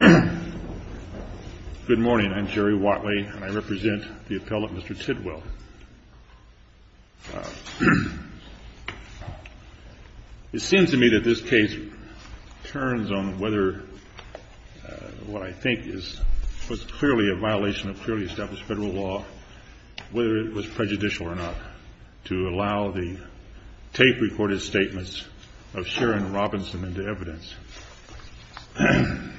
Good morning. I'm Jerry Watley and I represent the appellate Mr. Tidwell. It seems to me that this case turns on whether what I think is clearly a violation of clearly established federal law, whether it was prejudicial or not, to allow the tape-recorded statements of Sharon Robinson into evidence. MS.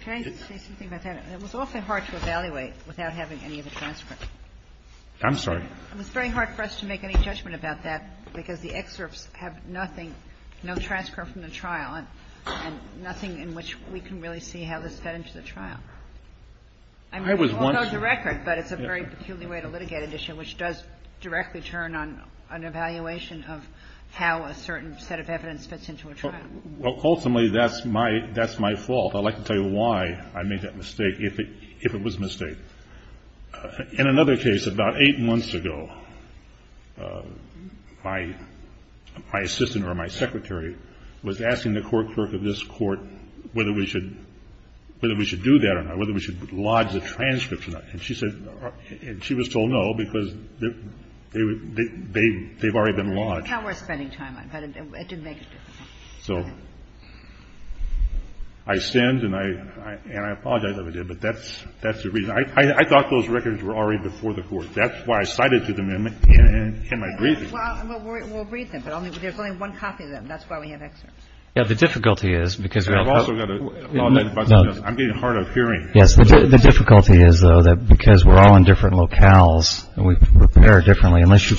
TIDWELL v. CALDERON Can I just say something about that? It was awfully hard to evaluate without having any of the transcripts. MR. TIDWELL v. CALDERON I'm sorry? MS. TIDWELL v. CALDERON It was very hard for us to make any judgment about that because the excerpts have nothing, no transcript from the trial and nothing in which we can really see how this fed into the trial. I mean, it all goes to record, but it's a very peculiar way to litigate an issue which does directly turn on an evaluation of how a certain set of evidence fits into a trial. MR. TIDWELL v. CALDERON Well, ultimately, that's my fault. I'd like to tell you why I made that mistake, if it was a mistake. In another case, about eight months ago, my assistant or my secretary was asking the court clerk of this court whether we should do that or not, whether we should lodge the transcripts or not. And she said, and she was told no, because they've already been lodged. MS. TIDWELL v. CALDERON That's how we're spending time on it. MR. TIDWELL v. CALDERON So I stand, and I apologize if I did, but that's the reason. I thought those records were already before the court. That's why I cited them in my briefing. MS. TIDWELL v. CALDERON Well, we'll read them, but there's only one copy of them. That's why we have excerpts. MR. TIDWELL v. CALDERON Yes, the difficulty is, though, that because we're all in different locales and we prepare differently, unless you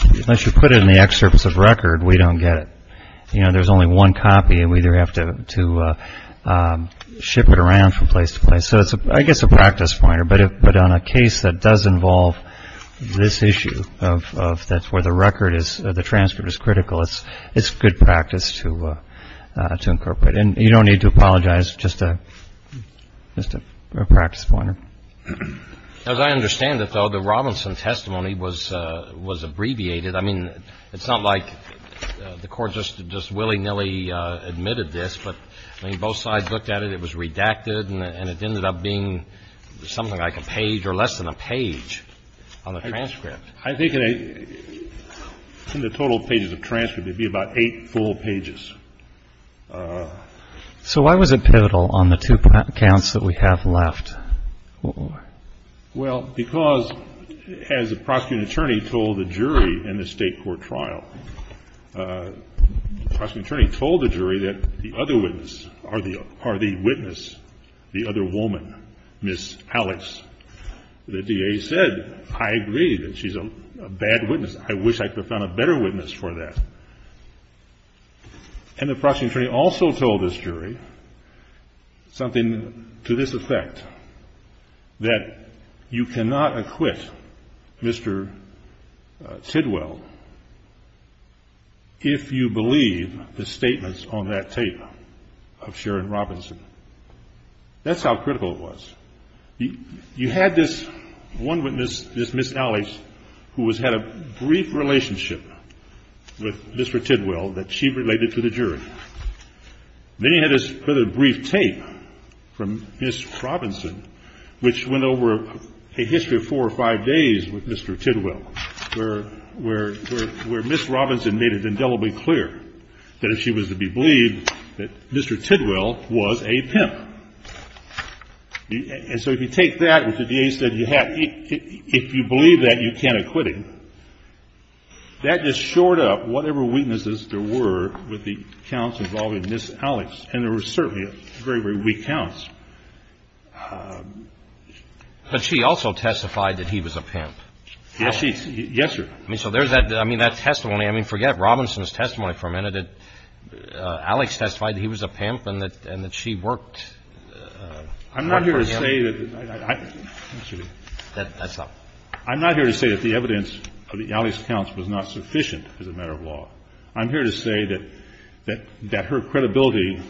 put it in the excerpts of record, we don't get it. You know, there's only one copy, and we either have to ship it around from place to place. So it's, I guess, a practice point, but on a case that does involve this issue, that's where the record is, the transcript is critical. It's good practice to incorporate. And you don't need to apologize. CHIEF JUSTICE ROBERTS As I understand it, though, the Robinson testimony was abbreviated. I mean, it's not like the Court just willy-nilly admitted this, but, I mean, both sides looked at it. It was redacted, and it ended up being something like a page or less than a page on the transcript. MR. TIDWELL v. CALDERON I think in the total pages of transcript, it would be about eight full pages. CHIEF JUSTICE ROBERTS So why was it pivotal on the two counts that we have left? MR. TIDWELL v. CALDERON Well, because, as the prosecuting attorney told the jury in the State court trial, the prosecuting attorney told the jury that the other witness, the other woman, Ms. Alex, the DA said, I agree that she's a bad witness. I wish I could have found a better witness for that. And the prosecuting attorney also told this jury something to this effect, that you cannot acquit Mr. Tidwell if you believe the statements on that tape of Sharon Robinson. That's how critical it was. You had this one witness, this Ms. Alex, who had a brief relationship with Mr. Tidwell that she related to the jury. Then you had this further brief tape from Ms. Robinson, which went over a history of four or five days with Mr. Tidwell, where Ms. Robinson made it indelibly clear that if she was to be believed, that Mr. Tidwell was a pimp. And so if you take that, which the DA said you had, if you believe that, you can't acquit him. That just shored up whatever weaknesses there were with the counts involving Ms. Alex, and there were certainly very, very weak counts. CHIEF JUSTICE ROBERTS But she also testified that he was a pimp. TIDWELL v. CALDERON Yes, she did. Yes, sir. CHIEF JUSTICE ROBERTS I mean, so there's that testimony. I mean, forget Robinson's testimony for a minute. I'm not here to say that Alex testified that he was a pimp and that she worked for him. TIDWELL v. CALDERON I'm not here to say that the evidence of Alex's accounts was not sufficient as a matter of law. I'm here to say that her credibility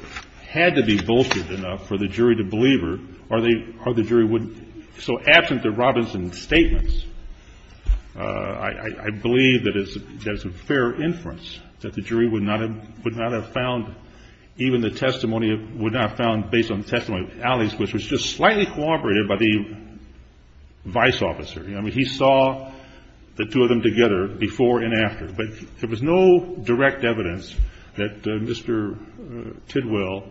had to be bolstered enough for the jury to believe her, or the jury wouldn't. So absent the Robinson statements, I believe that there's a fair inference that the jury would not have found, even the testimony, would not have found based on the testimony of Alex, which was just slightly corroborated by the vice officer. I mean, he saw the two of them together before and after. But there was no direct evidence that Mr. Tidwell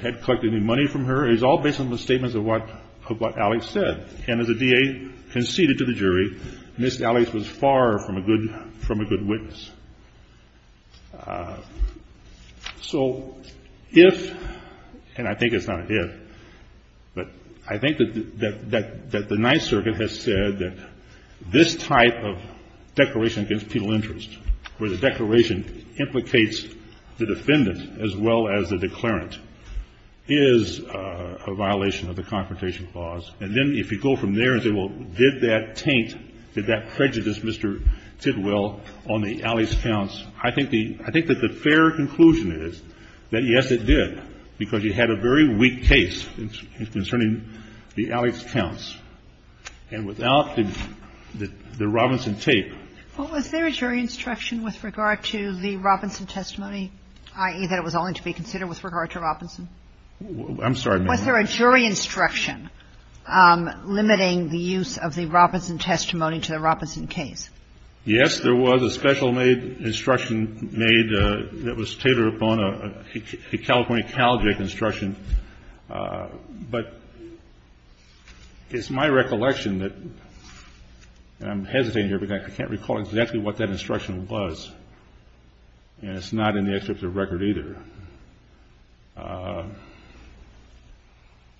had collected any money from her. It was all based on the statements of what Alex said. And as the DA conceded to the jury, Ms. Alex was far from a good witness. So if, and I think it's not a if, but I think that the Ninth Circuit has said that this type of declaration against is a violation of the Confrontation Clause, and then if you go from there and say, well, did that taint, did that prejudice Mr. Tidwell on the Alex counts, I think the fair conclusion is that, yes, it did, because you had a very weak case concerning the Alex counts. And without the Robinson tape. Sotomayor, was there a jury instruction with regard to the Robinson testimony, i.e., that it was only to be considered with regard to Robinson? I'm sorry, ma'am. Was there a jury instruction limiting the use of the Robinson testimony to the Robinson case? Yes, there was. A special made instruction made that was tailored upon a California CalJEC instruction. But it's my recollection that, and I'm hesitating here because I can't recall exactly what that instruction was, and it's not in the excerpt of the record either.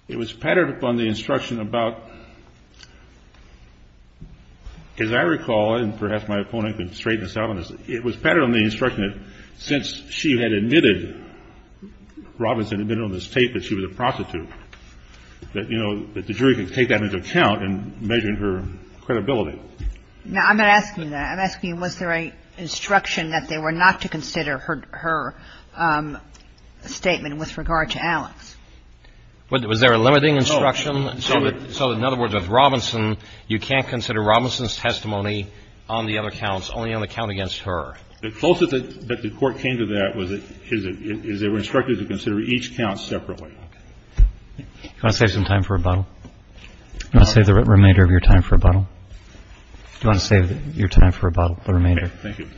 It was patterned upon the instruction about, as I recall, and perhaps my opponent can straighten this out on this, it was patterned on the instruction that since she had admitted, Robinson admitted on this tape that she was a prostitute, that, you know, that the jury could take that into account in measuring her credibility. Now, I'm not asking that. I'm asking was there an instruction that they were not to consider her statement with regard to Alex? Was there a limiting instruction? So in other words, with Robinson, you can't consider Robinson's testimony on the other counts, only on the count against her. The closest that the Court came to that was that they were instructed to consider each count separately. Do you want to save some time for rebuttal? Do you want to save the remainder of your time for rebuttal? Do you want to save your time for rebuttal, the remainder? Thank you.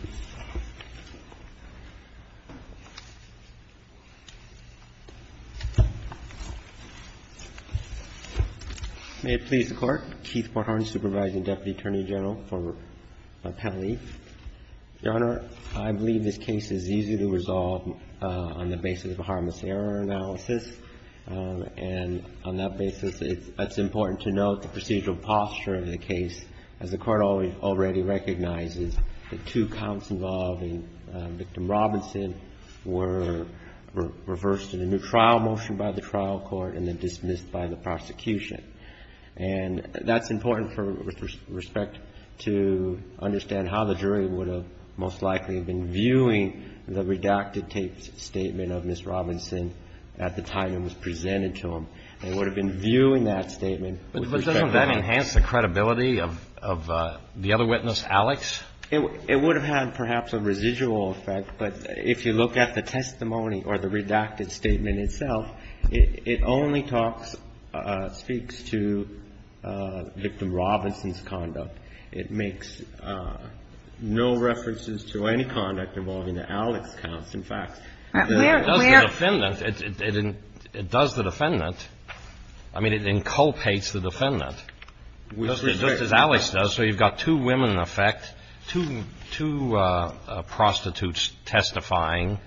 May it please the Court. Keith Porthorn, Supervising Deputy Attorney General, for my penalty. Your Honor, I believe this case is easy to resolve on the basis of a harmless error analysis. And on that basis, it's important to note the procedural posture of the case, as the Court already recognizes that two counts involving victim Robinson were reversed in a new trial motion by the trial court and then dismissed by the prosecution. And that's important for respect to understand how the jury would have most likely been viewing the redacted tape statement of Ms. Robinson at the time it was presented to them. They would have been viewing that statement with respect to Alex. Do you think that's the credibility of the other witness, Alex? It would have had perhaps a residual effect. But if you look at the testimony or the redacted statement itself, it only talks, speaks to victim Robinson's conduct. It makes no references to any conduct involving the Alex counts. In fact, it does the defendant. I mean, it inculpates the defendant. But that's just as Alex does. So you've got two women, in effect, two prostitutes testifying.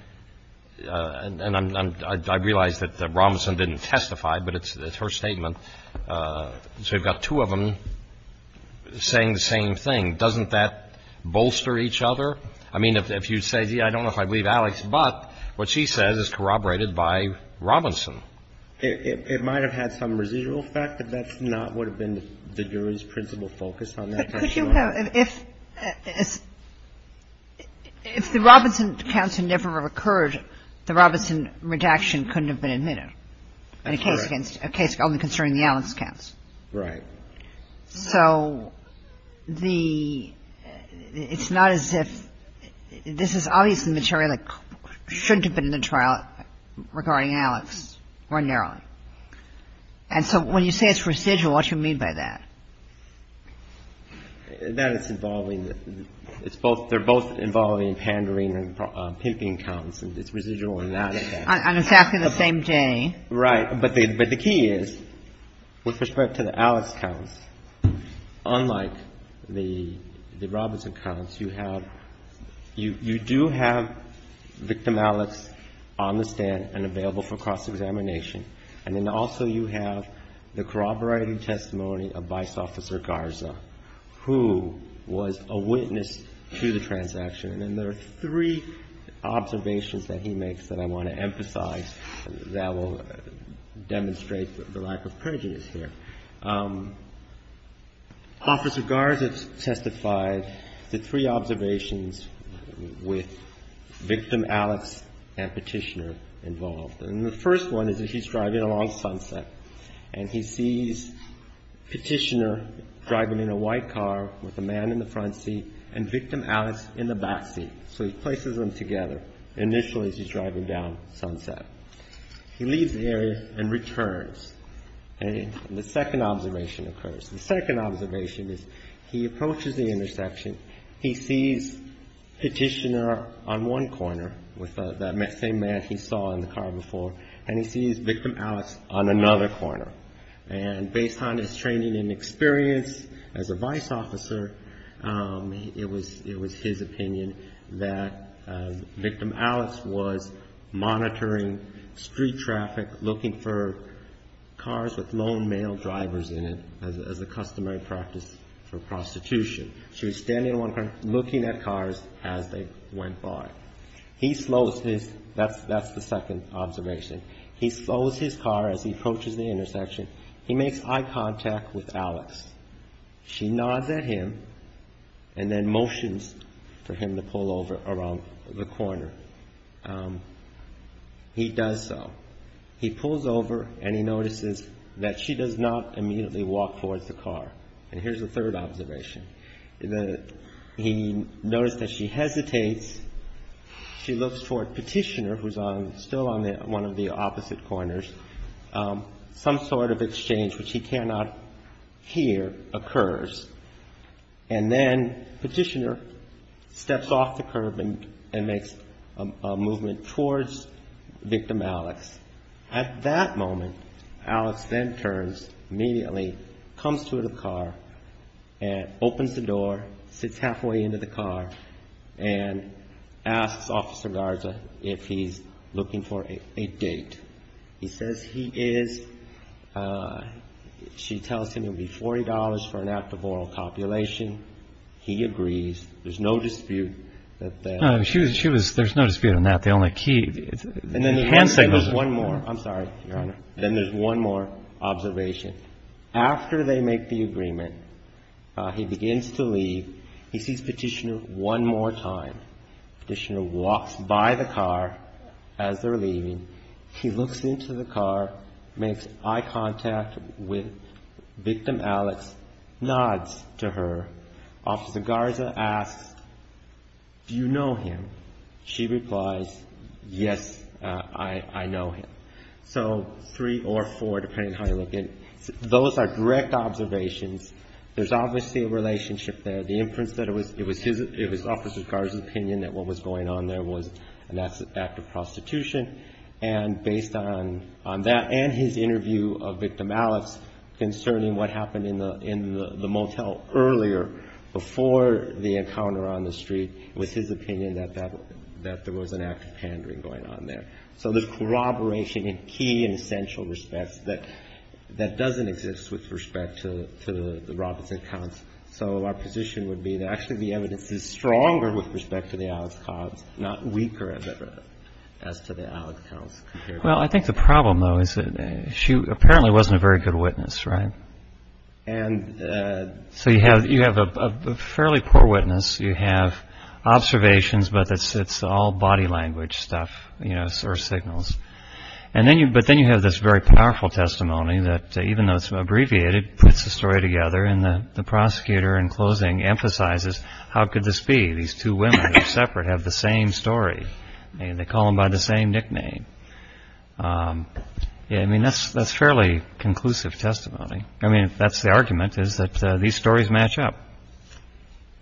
And I realize that Robinson didn't testify, but it's her statement. So you've got two of them saying the same thing. Doesn't that bolster each other? I mean, if you say, I don't know if I believe Alex, but what she says is corroborated by Robinson. It might have had some residual effect, but that's not what would have been the jury's principal focus on that testimony. But could you have, if the Robinson counts had never occurred, the Robinson redaction couldn't have been admitted in a case against, a case only concerning the Alex counts. Right. So the, it's not as if, this is obviously material that shouldn't have been in the trial regarding Alex ordinarily. And so when you say it's residual, what do you mean by that? That it's involving the, it's both, they're both involving pandering and pimping counts, and it's residual in that case. On exactly the same day. Right. But the key is, with respect to the Alex counts, unlike the Robinson counts, you have you do have victim Alex on the stand and available for cross-examination. And then also you have the corroborating testimony of Vice Officer Garza, who was a witness to the transaction. And there are three observations that he makes that I want to emphasize that will demonstrate the lack of prejudice here. Officer Garza testified to three observations with victim Alex and Petitioner involved. And the first one is that he's driving along Sunset and he sees Petitioner driving in a white car with a man in the front seat and victim Alex in the back seat. So he places them together initially as he's driving down Sunset. He leaves the area and returns. And the second observation occurs. The second observation is he approaches the intersection. He sees Petitioner on one corner with that same man he saw in the car before. And he sees victim Alex on another corner. And based on his training and experience as a vice officer, it was his opinion that victim Alex was monitoring street traffic, looking for cars with lone male drivers in it as a customary practice for prostitution. So he's standing on one corner looking at cars as they went by. He slows his – that's the second observation. He slows his car as he approaches the intersection. He makes eye contact with Alex. She nods at him and then motions for him to pull over around the corner. He does so. He pulls over and he notices that she does not immediately walk towards the car. And here's the third observation. He noticed that she hesitates. She looks toward Petitioner who's still on one of the opposite corners. Some sort of exchange which he cannot hear occurs. And then Petitioner steps off the curb and makes a movement towards victim Alex. At that moment, Alex then turns immediately, comes to the car and opens the door, sits halfway into the car and asks Officer Garza if he's looking for a date. He says he is. She tells him it would be $40 for an act of oral copulation. He agrees. There's no dispute that that – No, she was – there's no dispute on that. The only key – And then he – The handshake was one more. I'm sorry, Your Honor. Then there's one more observation. After they make the agreement, he begins to leave. He sees Petitioner one more time. Petitioner walks by the car as they're leaving. He looks into the car, makes eye contact with victim Alex, nods to her. Officer Garza asks, do you know him? She replies, yes, I know him. So three or four, depending on how you look at it. Those are direct observations. There's obviously a relationship there. The inference that it was his – it was Officer Garza's opinion that what was going on there was an act of prostitution. And based on that and his interview of victim Alex concerning what happened in the motel earlier, before the encounter on the street, it was his opinion that there was an act of pandering going on there. So there's corroboration in key and essential respects that doesn't exist with respect to the Robinson counts. So our position would be that actually the evidence is stronger with respect to the Alex counts, not weaker as to the Alex counts. Well, I think the problem, though, is that she apparently wasn't a very good witness, right? And – So you have a fairly poor witness. You have observations, but it's all body language stuff, you know, or signals. But then you have this very powerful testimony that even though it's abbreviated, it puts the story together and the prosecutor in closing emphasizes, how could this be? These two women are separate, have the same story, and they call him by the same nickname. I mean, that's fairly conclusive testimony. I mean, if that's the argument, is that these stories match up.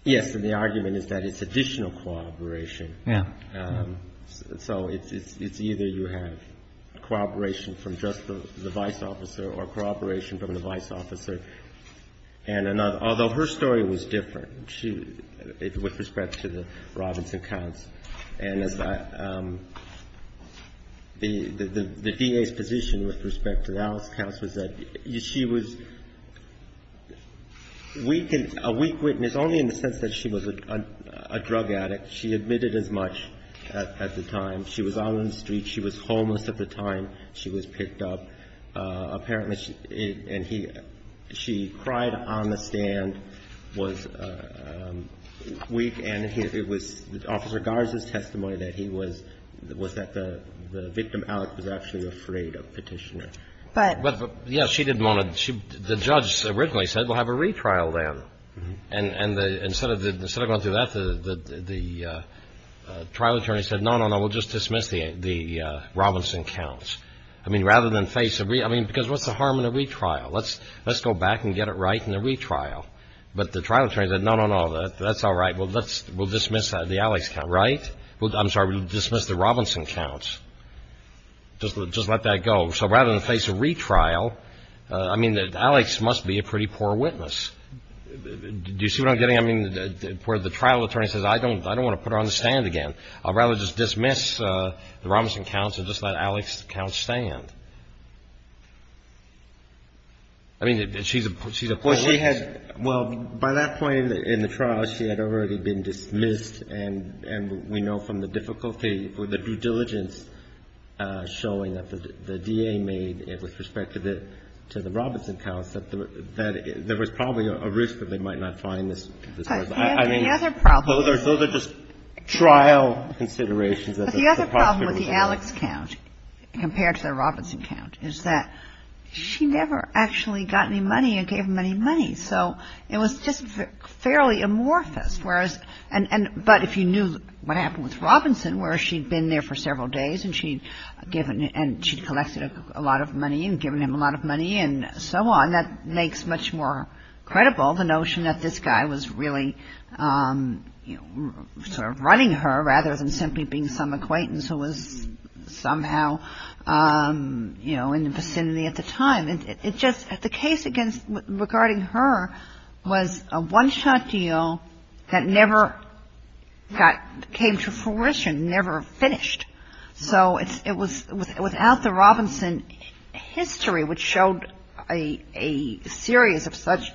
Yes, and the argument is that it's additional corroboration. So it's either you have corroboration from just the vice officer or corroboration from the vice officer and another. Although her story was different with respect to the Robinson counts. And the DA's position with respect to the Alex counts was that she was a weak witness only in the sense that she was a drug addict. She admitted as much at the time. She was out on the street. She was homeless at the time. She was picked up. Apparently she – and he – she cried on the stand, was weak, and it was Officer Garza's testimony that he was – was that the victim, Alex, was actually afraid of Petitioner. But – But, yes, she didn't want to – the judge originally said, we'll have a retrial then. And the – instead of going through that, the trial attorney said, no, no, no, we'll just dismiss the Robinson counts. I mean, rather than face a – I mean, because what's the harm in a retrial? Let's go back and get it right in the retrial. But the trial attorney said, no, no, no, that's all right. We'll dismiss the Alex count, right? I'm sorry, we'll dismiss the Robinson counts. Just let that go. So rather than face a retrial, I mean, Alex must be a pretty poor witness. Do you see what I'm getting? I mean, where the trial attorney says, I don't want to put her on the stand again. I'd rather just dismiss the Robinson counts and just let Alex count stand. I mean, she's a poor witness. Well, she had – well, by that point in the trial, she had already been dismissed, and we know from the difficulty or the due diligence showing that the DA made with respect to the – to the Robinson counts that there was probably a risk that they might not find this person. I mean, those are just trial considerations. But the other problem with the Alex count compared to the Robinson count is that she never actually got any money or gave him any money. So it was just fairly amorphous. But if you knew what happened with Robinson, where she'd been there for several days and she'd collected a lot of money and given him a lot of money and so on, that makes much more credible the notion that this guy was really sort of running her rather than simply being some acquaintance who was somehow, you know, in the vicinity at the time. It just – the case against – regarding her was a one-shot deal that never got – came to fruition, never finished. So it was – without the Robinson history which showed a series of such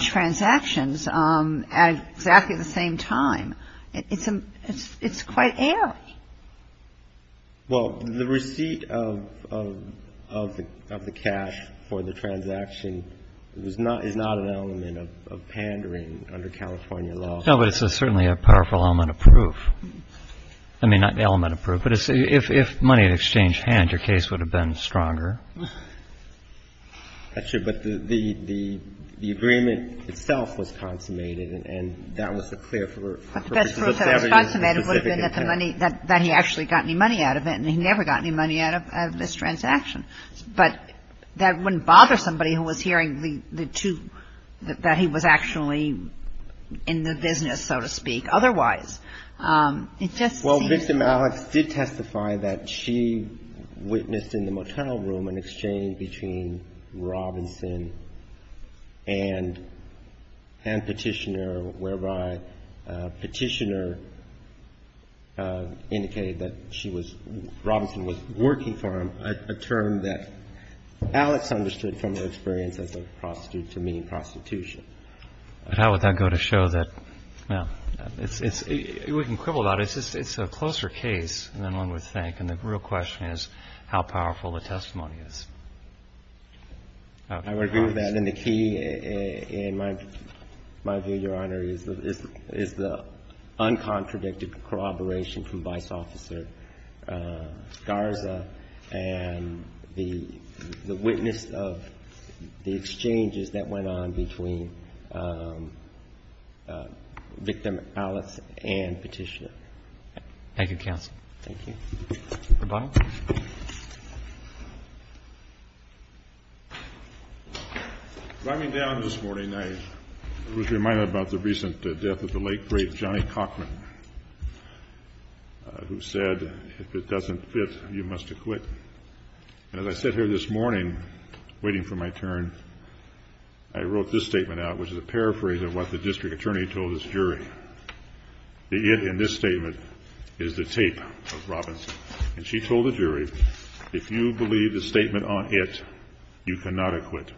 transactions at exactly the same time, it's quite airy. Well, the receipt of the cash for the transaction was not – is not an element of pandering under California law. No, but it's certainly a powerful element of proof. I mean, not element of proof, but if money had exchanged hand, your case would have been stronger. That's true. But the agreement itself was consummated, and that was a clear for a person to have a specific account. I mean, that he actually got any money out of it, and he never got any money out of this transaction. But that wouldn't bother somebody who was hearing the two – that he was actually in the business, so to speak. Otherwise, it just seems – Well, Victim Alex did testify that she witnessed in the motel room an exchange between she was – Robinson was working for him, a term that Alex understood from her experience as a prostitute, to mean prostitution. But how would that go to show that – well, it's – we can quibble about it. It's a closer case than one would think, and the real question is how powerful the testimony is. I would agree with that, and the key, in my view, Your Honor, is the uncontradicted corroboration from Vice Officer Garza and the witness of the exchanges that went on between Victim Alex and Petitia. Thank you, counsel. Thank you. Mr. Bonner. Riding down this morning, I was reminded about the recent death of the late great Johnny Cockman, who said, if it doesn't fit, you must acquit. And as I sat here this morning, waiting for my turn, I wrote this statement out, which is a paraphrase of what the district attorney told this jury. That it, in this statement, is the tape of Robinson. And she told the jury, if you believe the statement on it, you cannot acquit.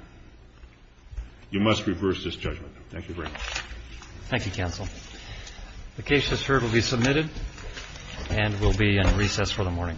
You must reverse this judgment. Thank you very much. Thank you, counsel. The case, as heard, will be submitted and will be in recess for the morning. All rise.